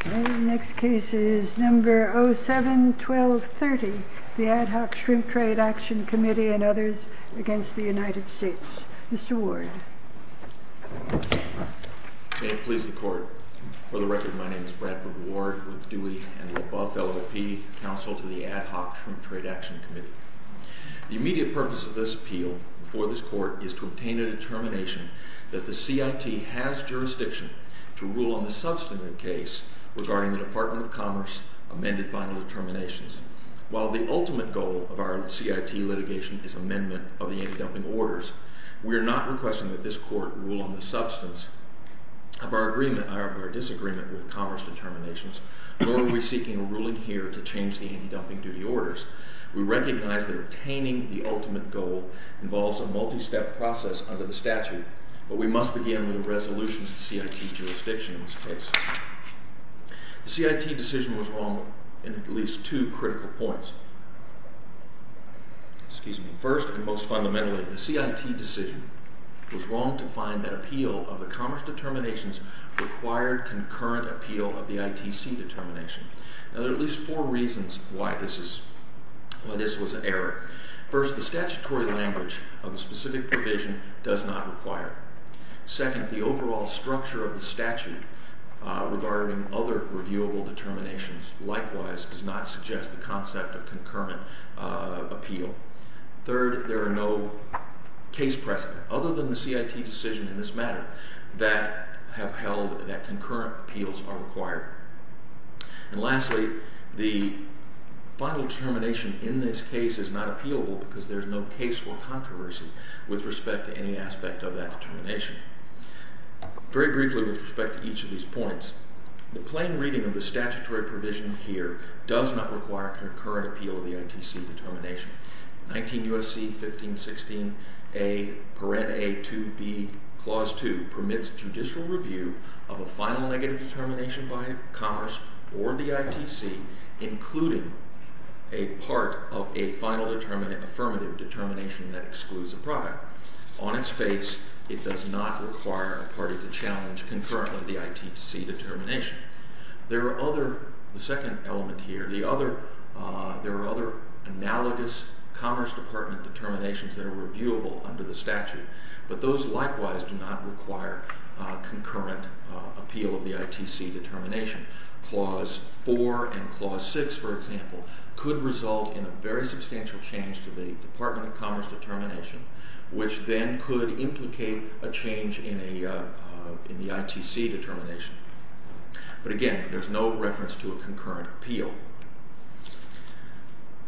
07-12-30 Ad Hoc Shrimp Trade Action Committee v. United States Mr. Ward May it please the Court, for the record, my name is Bradford Ward with Dewey & LaBeouf LLP, counsel to the Ad Hoc Shrimp Trade Action Committee. The immediate purpose of this appeal before this Court is to obtain a determination that the CIT has jurisdiction to rule on the substantive case regarding the Department of Commerce amended final determinations. While the ultimate goal of our CIT litigation is amendment of the anti-dumping orders, we are not requesting that this Court rule on the substance of our disagreement with Commerce determinations, nor are we seeking a ruling here to change the anti-dumping duty orders. We recognize that obtaining the ultimate goal involves a multi-step process under the statute, but we must begin with a resolution to the CIT jurisdiction in this case. The CIT decision was wrong in at least two critical points. First, and most fundamentally, the CIT decision was wrong to find that appeal of the Commerce determinations required concurrent appeal of the ITC determination. There are at least four reasons why this was an error. First, the statutory language of the specific provision does not require it. Second, the overall structure of the statute regarding other reviewable determinations likewise does not suggest the concept of concurrent appeal. Third, there are no case precedent, other than the CIT decision in this matter, that have held that concurrent appeals are required. And lastly, the final determination in this case is not appealable because there is no case for controversy with respect to any aspect of that determination. Very briefly with respect to each of these points, the plain reading of the statutory provision here does not require concurrent appeal of the ITC determination. 19 U.S.C. 1516a, Parente A. 2b, Clause 2, permits judicial review of a final negative determination by Commerce or the ITC, including a part of a final affirmative determination that excludes a product. On its face, it does not require a party to challenge concurrently the ITC determination. There are other, the second element here, there are other analogous Commerce Department determinations that are reviewable under the statute, but those likewise do not require concurrent appeal of the ITC determination. Clause 4 and Clause 6, for example, could result in a very substantial change to the Department of Commerce determination, which then could implicate a change in the ITC determination. But again, there is no reference to a concurrent appeal.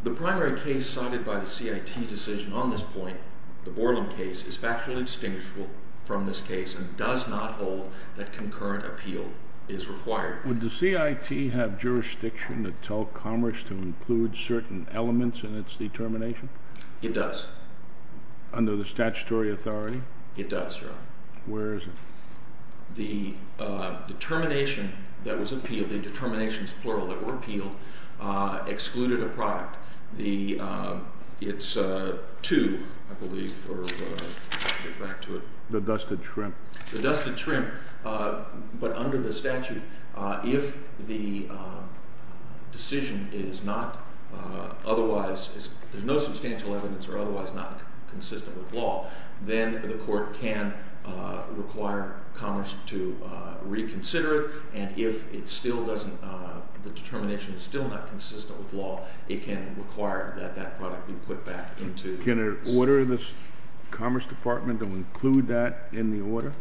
The primary case cited by the CIT decision on this point, the Borland case, is factually distinguishable from this case and does not hold that concurrent appeal is required. Would the CIT have jurisdiction to tell Commerce to include certain elements in its determination? It does. Under the statutory authority? It does, Your Honor. Where is it? The determination that was appealed, the determinations, plural, that were appealed, excluded a product. The, it's two, I believe, or I'll get back to it. The dusted shrimp. The dusted shrimp. But under the statute, if the decision is not otherwise, there's no substantial evidence or otherwise not consistent with law, then the court can require Commerce to reconsider it, and if it still doesn't, the determination is still not consistent with law, it can require that that product be put back into. Can it order the Commerce Department to include that in the order?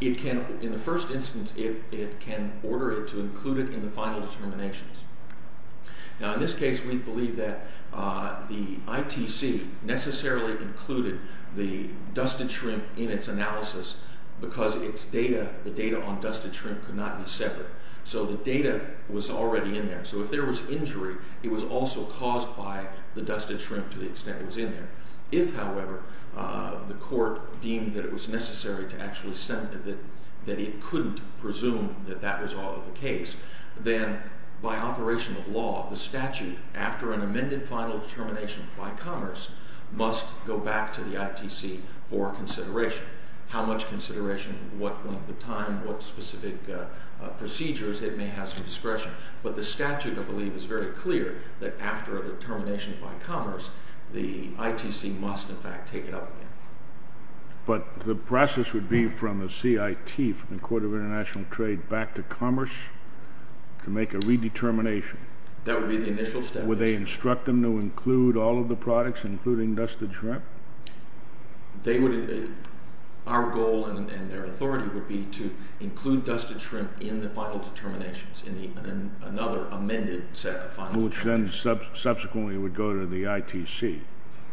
It can, in the first instance, it can order it to include it in the final determinations. Now, in this case, we believe that the ITC necessarily included the dusted shrimp in its analysis because its data, the data on dusted shrimp could not be separate. So the data was already in there. So if there was injury, it was also caused by the dusted shrimp to the extent it was in there. If, however, the court deemed that it was necessary to actually send, that it couldn't presume that that was all of the case, then by operation of law, the statute, after an how much consideration, what length of time, what specific procedures, it may have some discretion. But the statute, I believe, is very clear that after a determination by Commerce, the ITC must, in fact, take it up again. But the process would be from the CIT, from the Court of International Trade, back to Commerce to make a redetermination? That would be the initial step. Would they instruct them to include all of the products, including dusted shrimp? They would, our goal and their authority would be to include dusted shrimp in the final determinations, in another amended set of final determinations. Which then subsequently would go to the ITC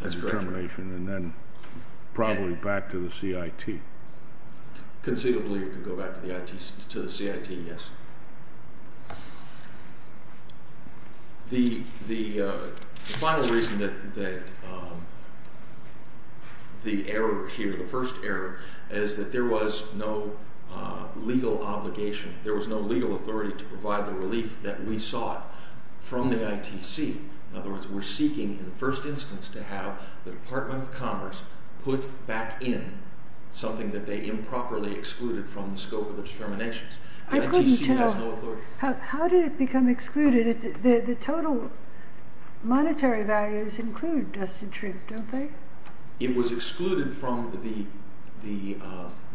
determination and then probably back to the CIT. Conceivably, it could go back to the CIT, yes. The final reason that the error here, the first error, is that there was no legal obligation, there was no legal authority to provide the relief that we sought from the ITC. In other words, we're seeking, in the first instance, to have the Department of Commerce put back in something that they improperly excluded from the scope of the determinations. I couldn't tell. The ITC has no authority. How did it become excluded? The total monetary values include dusted shrimp, don't they? It was excluded from the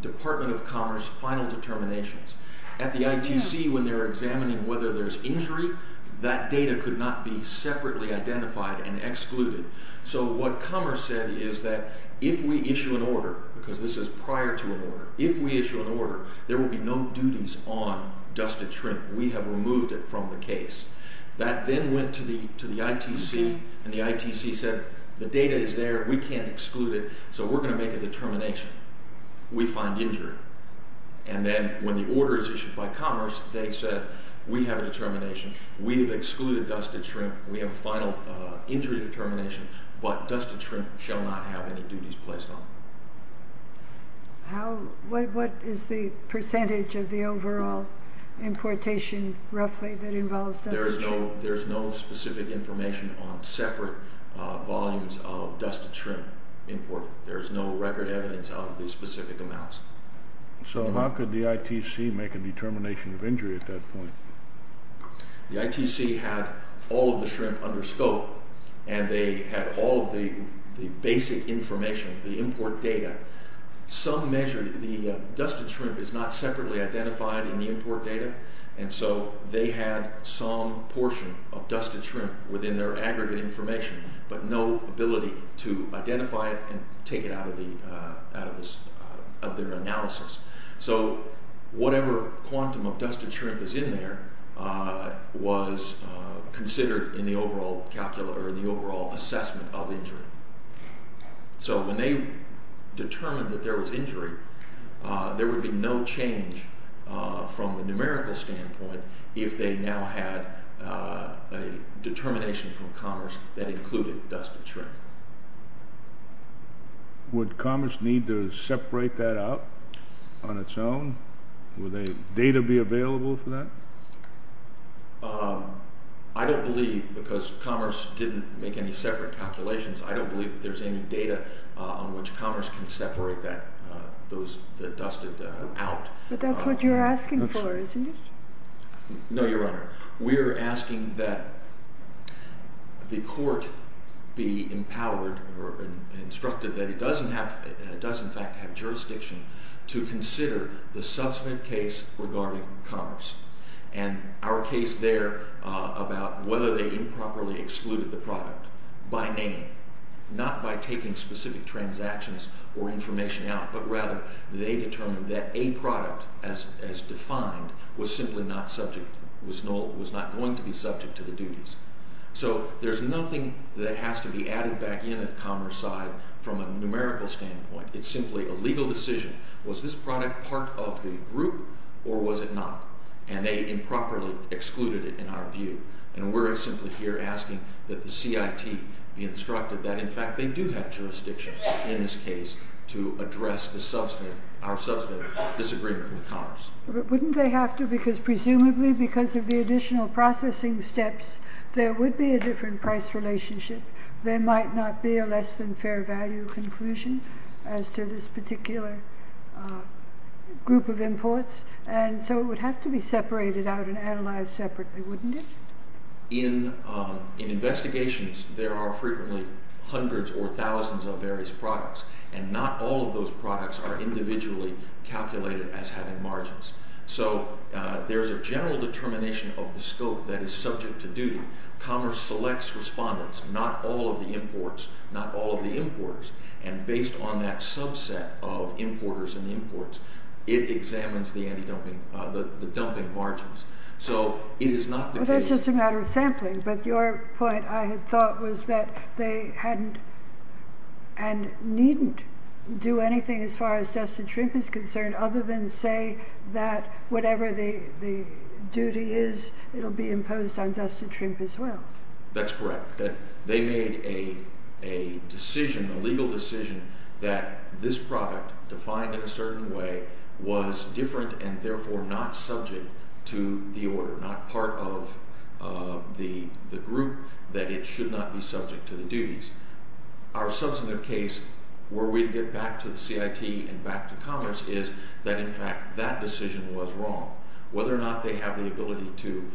Department of Commerce final determinations. At the ITC, when they're examining whether there's injury, that data could not be separately identified and excluded. So what Commerce said is that if we issue an order, because this is prior to an order, if we issue an order, there will be no duties on dusted shrimp. We have removed it from the case. That then went to the ITC, and the ITC said, the data is there. We can't exclude it, so we're going to make a determination. We find injury. And then when the order is issued by Commerce, they said, we have a determination. We have excluded dusted shrimp. We have a final injury determination, but dusted shrimp shall not have any duties placed on it. What is the percentage of the overall importation, roughly, that involves dusted shrimp? There is no specific information on separate volumes of dusted shrimp imported. There is no record evidence of the specific amounts. So how could the ITC make a determination of injury at that point? The ITC had all of the shrimp under scope, and they had all of the basic information, the import data, some measure. The dusted shrimp is not separately identified in the import data, and so they had some portion of dusted shrimp within their aggregate information, but no ability to identify it and take it out of their analysis. So whatever quantum of dusted shrimp is in there was considered in the overall assessment of injury. So when they determined that there was injury, there would be no change from the numerical standpoint if they now had a determination from Commerce that included dusted shrimp. Would Commerce need to separate that out on its own? Would data be available for that? I don't believe, because Commerce didn't make any separate calculations, I don't believe that there's any data on which Commerce can separate those dusted out. But that's what you're asking for, isn't it? No, Your Honor. We're asking that the court be empowered or instructed that it does in fact have jurisdiction to consider the substantive case regarding Commerce, and our case there about whether they improperly excluded the product by name, not by taking specific transactions or information out, but rather they determined that a product as defined was simply not subject, was not going to be subject to the duties. So there's nothing that has to be added back in at Commerce side from a numerical standpoint. It's simply a legal decision. Was this product part of the group or was it not? And they improperly excluded it in our view. And we're simply here asking that the CIT be instructed that in fact they do have jurisdiction in this case to address our substantive disagreement with Commerce. But wouldn't they have to, because presumably because of the additional processing steps, there would be a different price relationship. There might not be a less than fair value conclusion as to this particular group of imports. And so it would have to be separated out and analyzed separately, wouldn't it? In investigations, there are frequently hundreds or thousands of various products, and not all of those products are individually calculated as having margins. So there's a general determination of the scope that is subject to duty. Commerce selects respondents, not all of the imports, not all of the importers. And based on that subset of importers and imports, it examines the dumping margins. So it is not the case. Well, that's just a matter of sampling, but your point, I had thought, was that they hadn't and needn't do anything as far as Dustin Trimpe is concerned other than say that whatever the duty is, it will be imposed on Dustin Trimpe as well. That's correct. They made a decision, a legal decision, that this product, defined in a certain way, was different and therefore not subject to the order, not part of the group that it should not be subject to the duties. Our substantive case, were we to get back to the CIT and back to Commerce, is that in fact that decision was wrong. Whether or not they have the ability to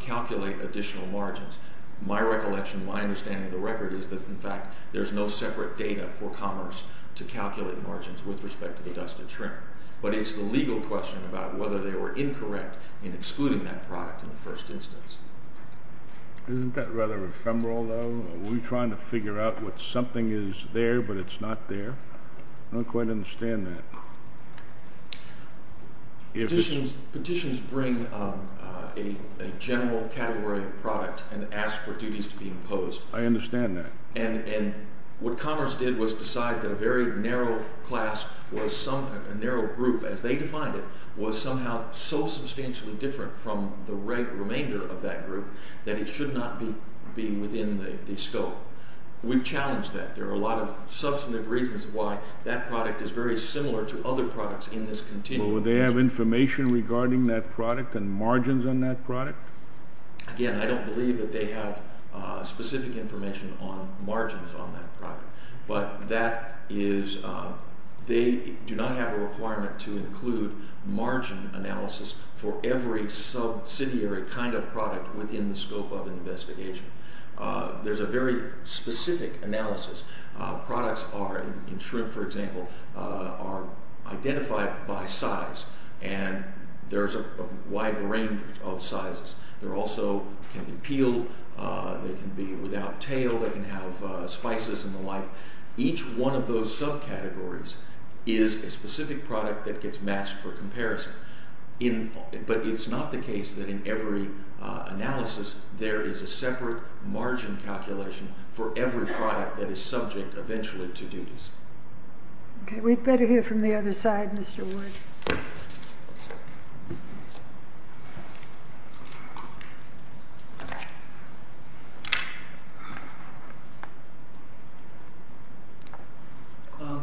calculate additional margins, my recollection, my understanding of the record is that, in fact, there's no separate data for Commerce to calculate margins with respect to Dustin Trimpe. But it's the legal question about whether they were incorrect in excluding that product in the first instance. Isn't that rather ephemeral, though? Are we trying to figure out what something is there but it's not there? I don't quite understand that. Petitions bring a general category of product and ask for duties to be imposed. I understand that. And what Commerce did was decide that a very narrow class, a narrow group as they defined it, was somehow so substantially different from the remainder of that group that it should not be within the scope. We've challenged that. There are a lot of substantive reasons why that product is very similar to other products in this continuum. Well, would they have information regarding that product and margins on that product? Again, I don't believe that they have specific information on margins on that product. But that is they do not have a requirement to include margin analysis for every subsidiary kind of product within the scope of an investigation. There's a very specific analysis. Products in shrimp, for example, are identified by size. And there's a wide range of sizes. They also can be peeled. They can be without tail. They can have spices and the like. Each one of those subcategories is a specific product that gets matched for comparison. But it's not the case that in every analysis there is a separate margin calculation for every product that is subject eventually to duties. Okay. We'd better hear from the other side, Mr. Ward.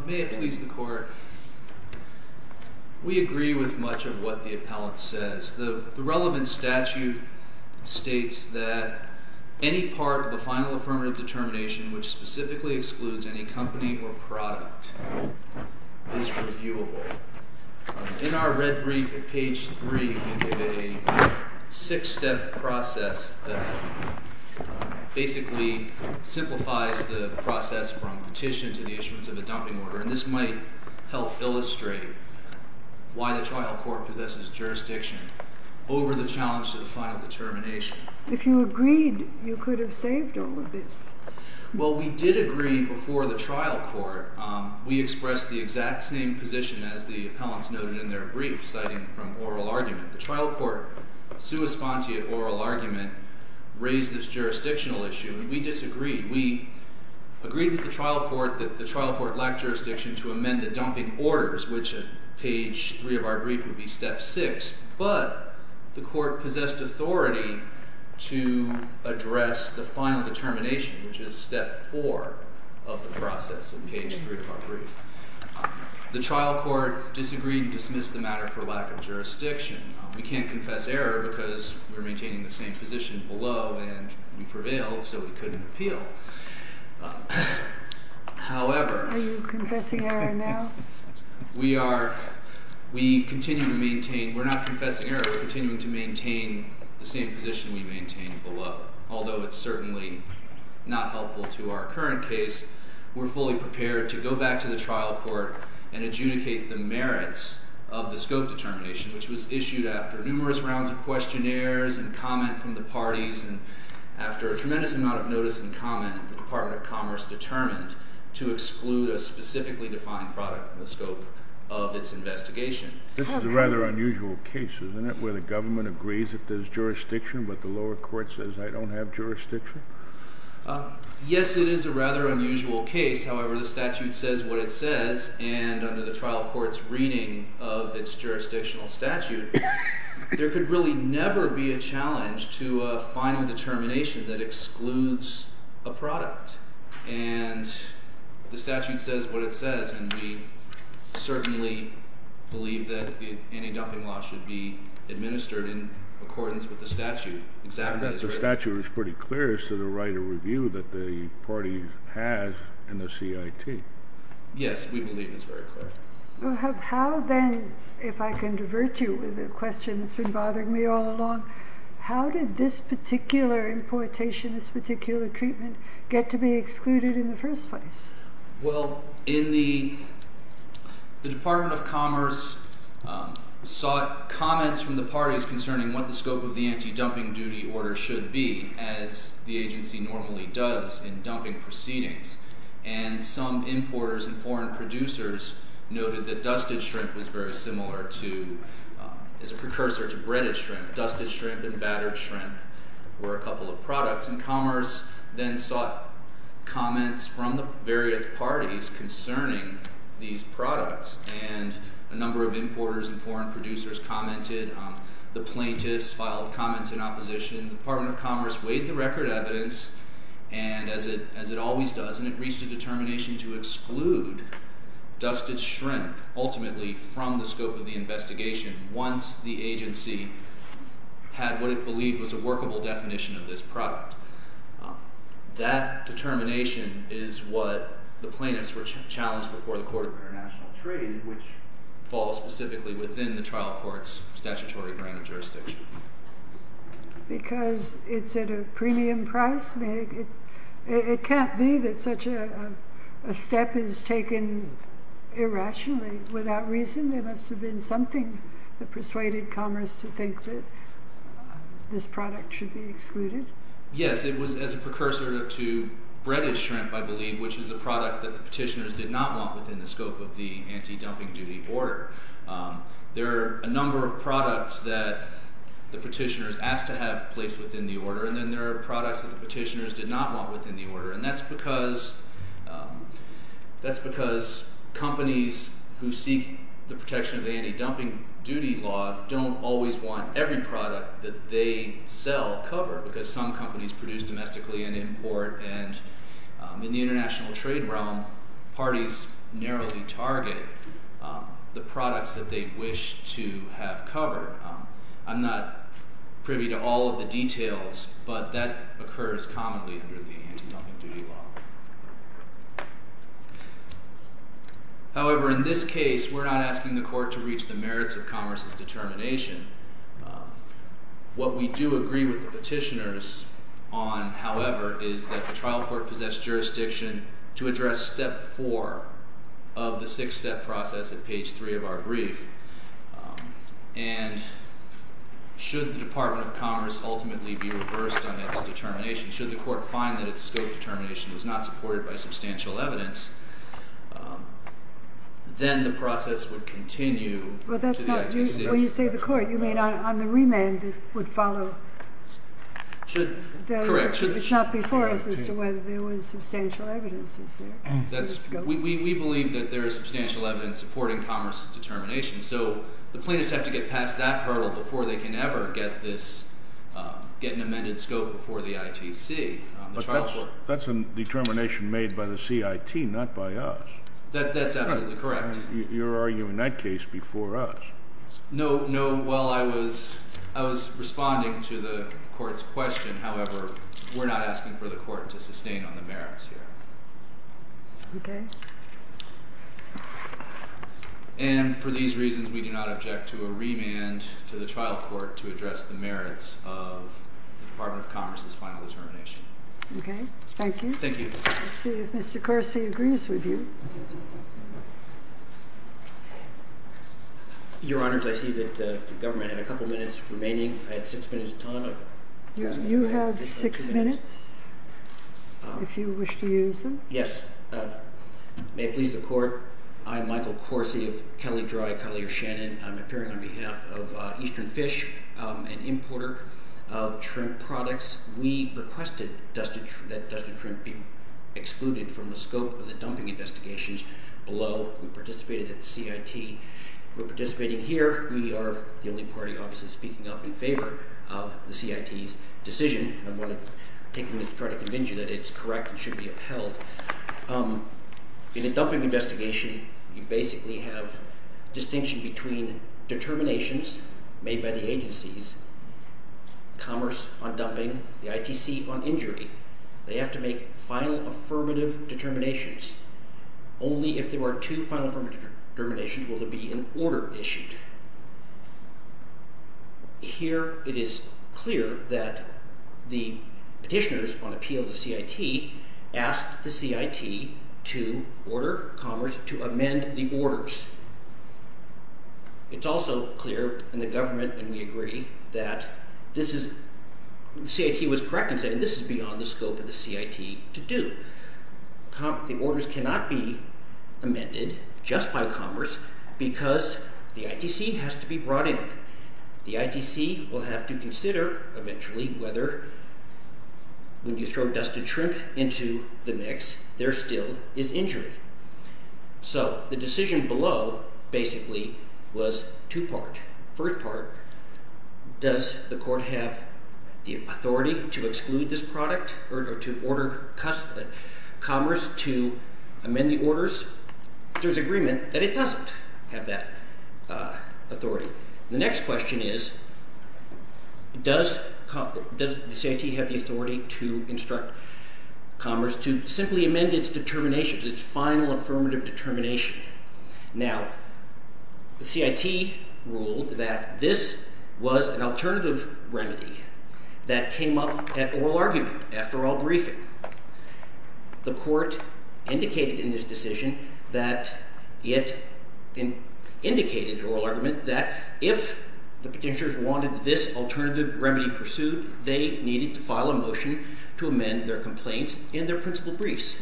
May it please the Court. We agree with much of what the appellant says. The relevant statute states that any part of the final affirmative determination which specifically excludes any company or product is reviewable. In our red brief at page 3, we give a six-step process that basically simplifies the process from petition to the issuance of a dumping order. And this might help illustrate why the trial court possesses jurisdiction over the challenge to the final determination. If you agreed, you could have saved all of this. Well, we did agree before the trial court. We expressed the exact same position as the appellants noted in their brief, citing from oral argument. The trial court, sui sponte of oral argument, raised this jurisdictional issue, and we disagreed. We agreed with the trial court that the trial court lacked jurisdiction to amend the dumping orders, which at page 3 of our brief would be step 6. But the court possessed authority to address the final determination, which is step 4 of the process at page 3 of our brief. The trial court disagreed and dismissed the matter for lack of jurisdiction. We can't confess error because we're maintaining the same position below, and we prevailed, so we couldn't appeal. However... Are you confessing error now? We are. We continue to maintain. We're not confessing error. We're continuing to maintain the same position we maintained below. Although it's certainly not helpful to our current case, we're fully prepared to go back to the trial court and adjudicate the merits of the scope determination, which was issued after numerous rounds of questionnaires and comment from the parties, and after a tremendous amount of notice and comment, the Department of Commerce determined to exclude a specifically defined product from the scope of its investigation. This is a rather unusual case, isn't it, where the government agrees that there's jurisdiction, but the lower court says, I don't have jurisdiction? Yes, it is a rather unusual case. However, the statute says what it says, and under the trial court's reading of its jurisdictional statute, there could really never be a challenge to a final determination that excludes a product. And the statute says what it says, and we certainly believe that the anti-dumping law should be administered in accordance with the statute. The statute is pretty clear as to the right of review that the party has in the CIT. Yes, we believe it's very clear. Well, how then, if I can divert you with a question that's been bothering me all along, how did this particular importation, this particular treatment, get to be excluded in the first place? Well, the Department of Commerce sought comments from the parties concerning what the scope of the anti-dumping duty order should be, as the agency normally does in dumping proceedings. And some importers and foreign producers noted that dusted shrimp was very similar to, as a precursor to breaded shrimp. Dusted shrimp and battered shrimp were a couple of products. And Commerce then sought comments from the various parties concerning these products. And a number of importers and foreign producers commented. The plaintiffs filed comments in opposition. The Department of Commerce weighed the record evidence, as it always does, and it reached a determination to exclude dusted shrimp ultimately from the scope of the investigation once the agency had what it believed was a workable definition of this product. That determination is what the plaintiffs were challenged before the Court of International Trade, which falls specifically within the trial court's statutory granted jurisdiction. Because it's at a premium price? It can't be that such a step is taken irrationally, without reason. There must have been something that persuaded Commerce to think that this product should be excluded. Yes, it was as a precursor to breaded shrimp, I believe, which is a product that the petitioners did not want within the scope of the anti-dumping duty order. There are a number of products that the petitioners asked to have placed within the order, and then there are products that the petitioners did not want within the order. And that's because companies who seek the protection of the anti-dumping duty law don't always want every product that they sell covered, because some companies produce domestically and import, and in the international trade realm, parties narrowly target the products that they wish to have covered. I'm not privy to all of the details, but that occurs commonly under the anti-dumping duty law. However, in this case, we're not asking the Court to reach the merits of Commerce's determination. What we do agree with the petitioners on, however, is that the trial court possess jurisdiction to address step four of the six-step process at page three of our brief. And should the Department of Commerce ultimately be reversed on its determination? Should the Court find that its scope determination was not supported by substantial evidence? Then the process would continue to the ITC. Well, you say the Court. You mean on the remand it would follow? Correct. It's not before us as to whether there was substantial evidence. We believe that there is substantial evidence supporting Commerce's determination. So the plaintiffs have to get past that hurdle before they can ever get an amended scope before the ITC. But that's a determination made by the CIT, not by us. That's absolutely correct. You're arguing that case before us. No, no. Well, I was responding to the Court's question. However, we're not asking for the Court to sustain on the merits here. Okay. And for these reasons, we do not object to a remand to the trial court to address the merits of the Department of Commerce's final determination. Okay. Thank you. Thank you. Let's see if Mr. Carsey agrees with you. Your Honors, I see that the government had a couple minutes remaining. I had six minutes of time. You have six minutes if you wish to use them. Yes. May it please the Court, I'm Michael Carsey of Kelly Dry, Kelly, or Shannon. I'm appearing on behalf of Eastern Fish, an importer of shrimp products. We requested that Dustin Shrimp be excluded from the scope of the dumping investigations below. We participated at the CIT. We're participating here. We are the only party, obviously, speaking up in favor of the CIT's decision. I'm going to take a minute to try to convince you that it's correct and should be upheld. In a dumping investigation, you basically have distinction between determinations made by the agencies, Commerce on dumping, the ITC on injury. They have to make final affirmative determinations. Only if there are two final affirmative determinations will there be an order issued. Here it is clear that the petitioners on appeal to CIT asked the CIT to order Commerce to amend the orders. It's also clear in the government, and we agree, that this is – the CIT was correct in saying this is beyond the scope of the CIT to do. The orders cannot be amended just by Commerce because the ITC has to be brought in. The ITC will have to consider eventually whether, when you throw Dustin Shrimp into the mix, there still is injury. So the decision below basically was two-part. First part, does the court have the authority to exclude this product or to order Commerce to amend the orders? There's agreement that it doesn't have that authority. The next question is, does the CIT have the authority to instruct Commerce to simply amend its determination, its final affirmative determination? Now, the CIT ruled that this was an alternative remedy that came up at oral argument after oral briefing. The court indicated in this decision that it indicated in oral argument that if the petitioners wanted this alternative remedy pursued…… they needed to file a motion to amend their complaints in their principal briefs.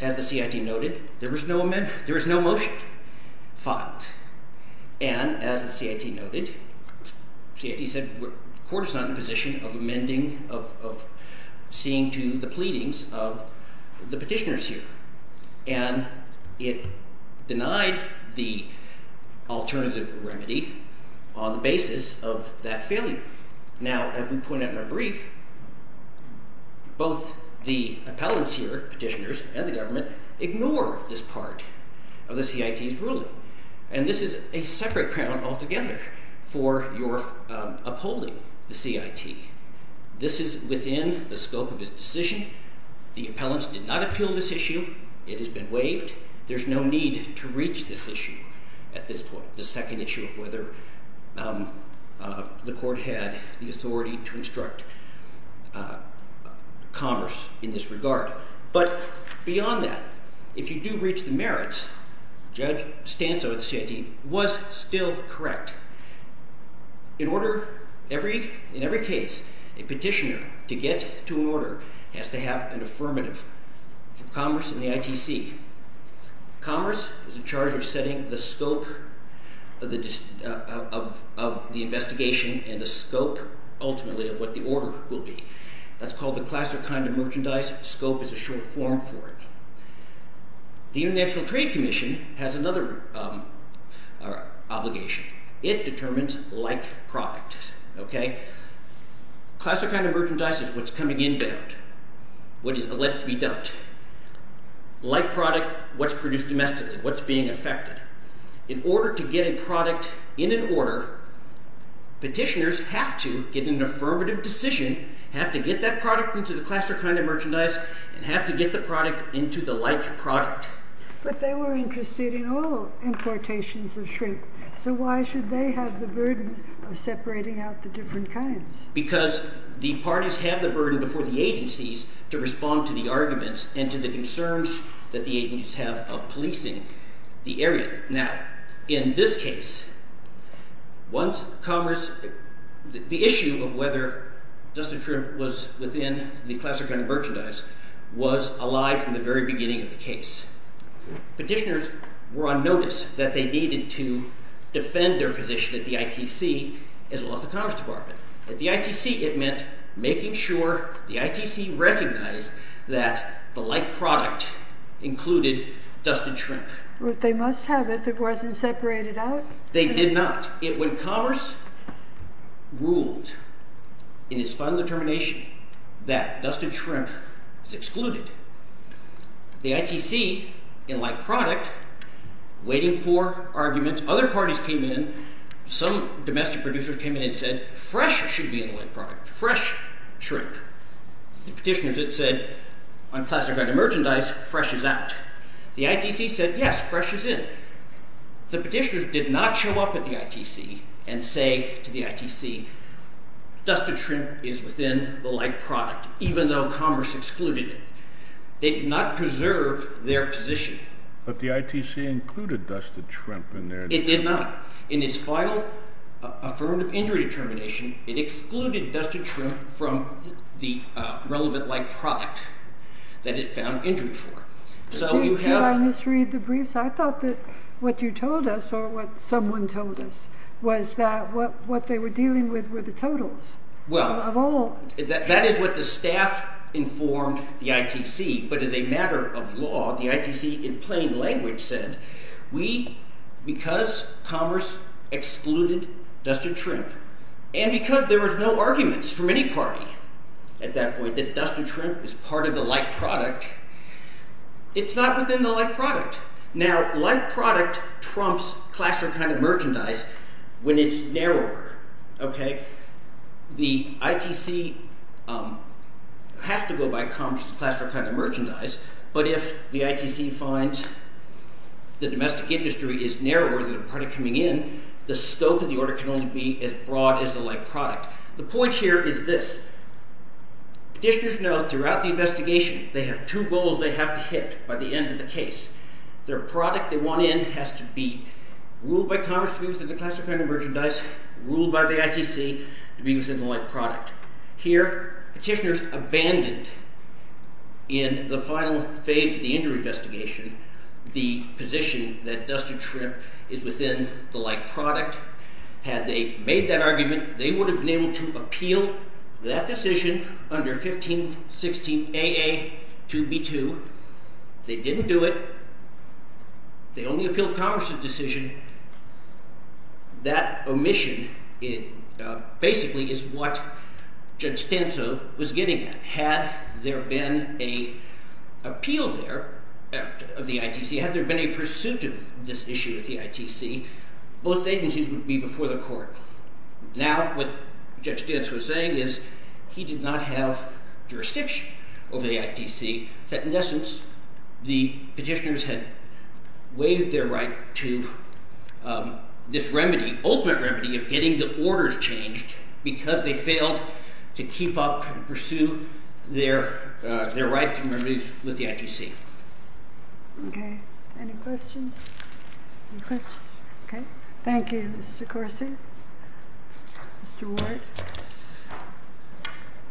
As the CIT noted, there was no motion filed. And as the CIT noted, the CIT said the court is not in a position of amending – of seeing to the pleadings of the petitioners here. And it denied the alternative remedy on the basis of that failure. Now, as we point out in our brief, both the appellants here, petitioners, and the government ignore this part of the CIT's ruling. And this is a separate problem altogether for your upholding the CIT. This is within the scope of its decision. The appellants did not appeal this issue. It has been waived. There's no need to reach this issue at this point. The second issue of whether the court had the authority to instruct commerce in this regard. But beyond that, if you do reach the merits, Judge Stanzo of the CIT was still correct. In order – in every case, a petitioner, to get to an order, has to have an affirmative for commerce in the ITC. Commerce is in charge of setting the scope of the investigation and the scope, ultimately, of what the order will be. That's called the class or kind of merchandise. Scope is a short form for it. The International Trade Commission has another obligation. It determines like product. Class or kind of merchandise is what's coming inbound, what is alleged to be dubbed. Like product, what's produced domestically, what's being affected. In order to get a product in an order, petitioners have to get an affirmative decision, have to get that product into the class or kind of merchandise, and have to get the product into the like product. But they were interested in all importations of shrimp. So why should they have the burden of separating out the different kinds? Because the parties have the burden before the agencies to respond to the arguments and to the concerns that the agencies have of policing the area. Now, in this case, once commerce – the issue of whether dust and shrimp was within the class or kind of merchandise was alive from the very beginning of the case. Petitioners were on notice that they needed to defend their position at the ITC as well as the Commerce Department. At the ITC, it meant making sure the ITC recognized that the like product included dust and shrimp. But they must have it if it wasn't separated out? They did not. When commerce ruled in its final determination that dust and shrimp was excluded, the ITC, in like product, waiting for arguments, other parties came in. Some domestic producers came in and said, fresh should be in the like product, fresh shrimp. The petitioners then said, on class or kind of merchandise, fresh is out. The ITC said, yes, fresh is in. The petitioners did not show up at the ITC and say to the ITC, dust and shrimp is within the like product, even though commerce excluded it. They did not preserve their position. It did not. In its final affirmative injury determination, it excluded dust and shrimp from the relevant like product that it found injury for. Did I misread the briefs? I thought that what you told us or what someone told us was that what they were dealing with were the totals of all. That is what the staff informed the ITC. But as a matter of law, the ITC in plain language said, we – because commerce excluded dust and shrimp and because there was no arguments from any party at that point that dust and shrimp is part of the like product, it's not within the like product. Now, like product trumps class or kind of merchandise when it's narrower. The ITC has to go by commerce to class or kind of merchandise, but if the ITC finds the domestic industry is narrower than the party coming in, the scope of the order can only be as broad as the like product. The point here is this. Petitioners know throughout the investigation they have two goals they have to hit by the end of the case. Their product they want in has to be ruled by commerce to be within the class or kind of merchandise, ruled by the ITC to be within the like product. Here, petitioners abandoned in the final phase of the injury investigation the position that dust and shrimp is within the like product. Had they made that argument, they would have been able to appeal that decision under 1516 AA 2B2. They didn't do it. They only appealed commerce's decision. That omission basically is what Judge Stanso was getting at. Had there been an appeal there of the ITC, had there been a pursuit of this issue of the ITC, both agencies would be before the court. Now, what Judge Stanso was saying is he did not have jurisdiction over the ITC. In essence, the petitioners had waived their right to this remedy, ultimate remedy of getting the orders changed because they failed to keep up and pursue their right to remit with the ITC. Okay. Any questions? Okay. Thank you, Mr. Corsi. Mr. Ward?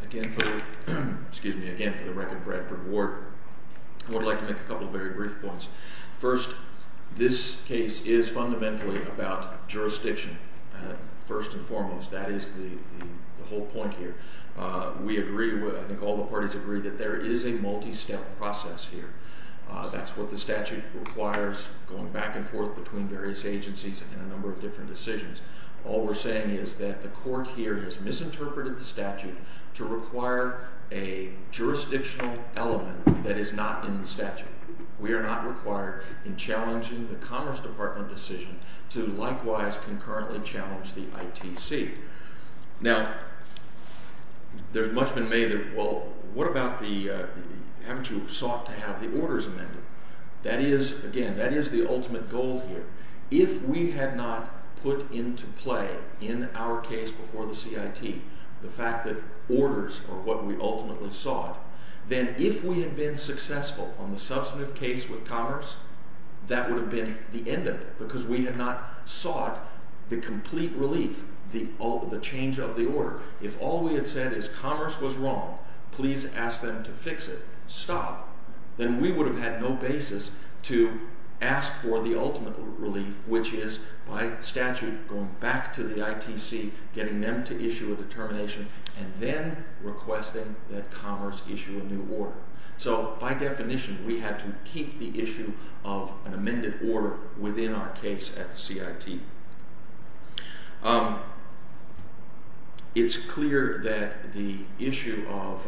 Again, for the record, Bradford Ward, I would like to make a couple of very brief points. First, this case is fundamentally about jurisdiction, first and foremost. That is the whole point here. We agree, I think all the parties agree, that there is a multi-step process here. That's what the statute requires going back and forth between various agencies and a number of different decisions. All we're saying is that the court here has misinterpreted the statute to require a jurisdictional element that is not in the statute. We are not required in challenging the Commerce Department decision to likewise concurrently challenge the ITC. Now, there's much been made that, well, what about the, haven't you sought to have the orders amended? That is, again, that is the ultimate goal here. If we had not put into play in our case before the CIT the fact that orders are what we ultimately sought, then if we had been successful on the substantive case with Commerce, that would have been the end of it because we had not sought the complete relief, the change of the order. If all we had said is Commerce was wrong, please ask them to fix it, stop, then we would have had no basis to ask for the ultimate relief, which is by statute going back to the ITC, getting them to issue a determination, and then requesting that Commerce issue a new order. So, by definition, we had to keep the issue of an amended order within our case at CIT. It's clear that the issue of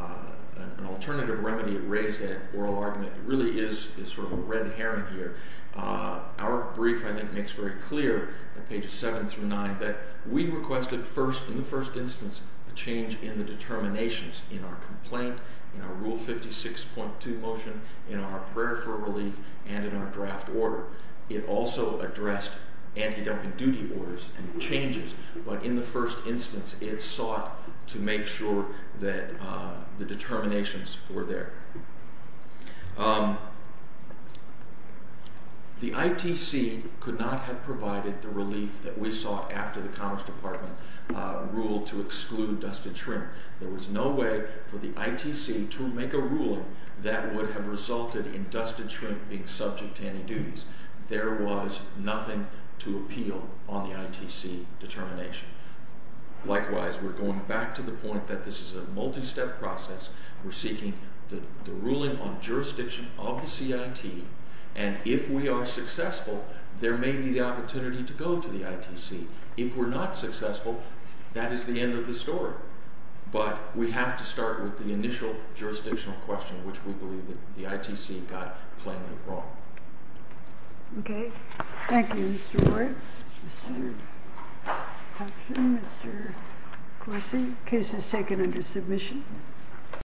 an alternative remedy raised at oral argument really is sort of a red herring here. Our brief, I think, makes very clear on pages 7 through 9 that we requested first, in the first instance, a change in the determinations in our complaint, in our Rule 56.2 motion, in our prayer for relief, and in our draft order. It also addressed anti-dumping duty orders and changes, but in the first instance, it sought to make sure that the determinations were there. The ITC could not have provided the relief that we sought after the Commerce Department ruled to exclude dusted shrimp. There was no way for the ITC to make a ruling that would have resulted in dusted shrimp being subject to anti-duties. There was nothing to appeal on the ITC determination. Likewise, we're going back to the point that this is a multi-step process. We're seeking the ruling on jurisdiction of the CIT, and if we are successful, there may be the opportunity to go to the ITC. If we're not successful, that is the end of the story. But we have to start with the initial jurisdictional question, which we believe that the ITC got plainly wrong. Okay. Thank you, Mr. Ward. Mr. Hudson, Mr. Corsi. Case is taken under submission.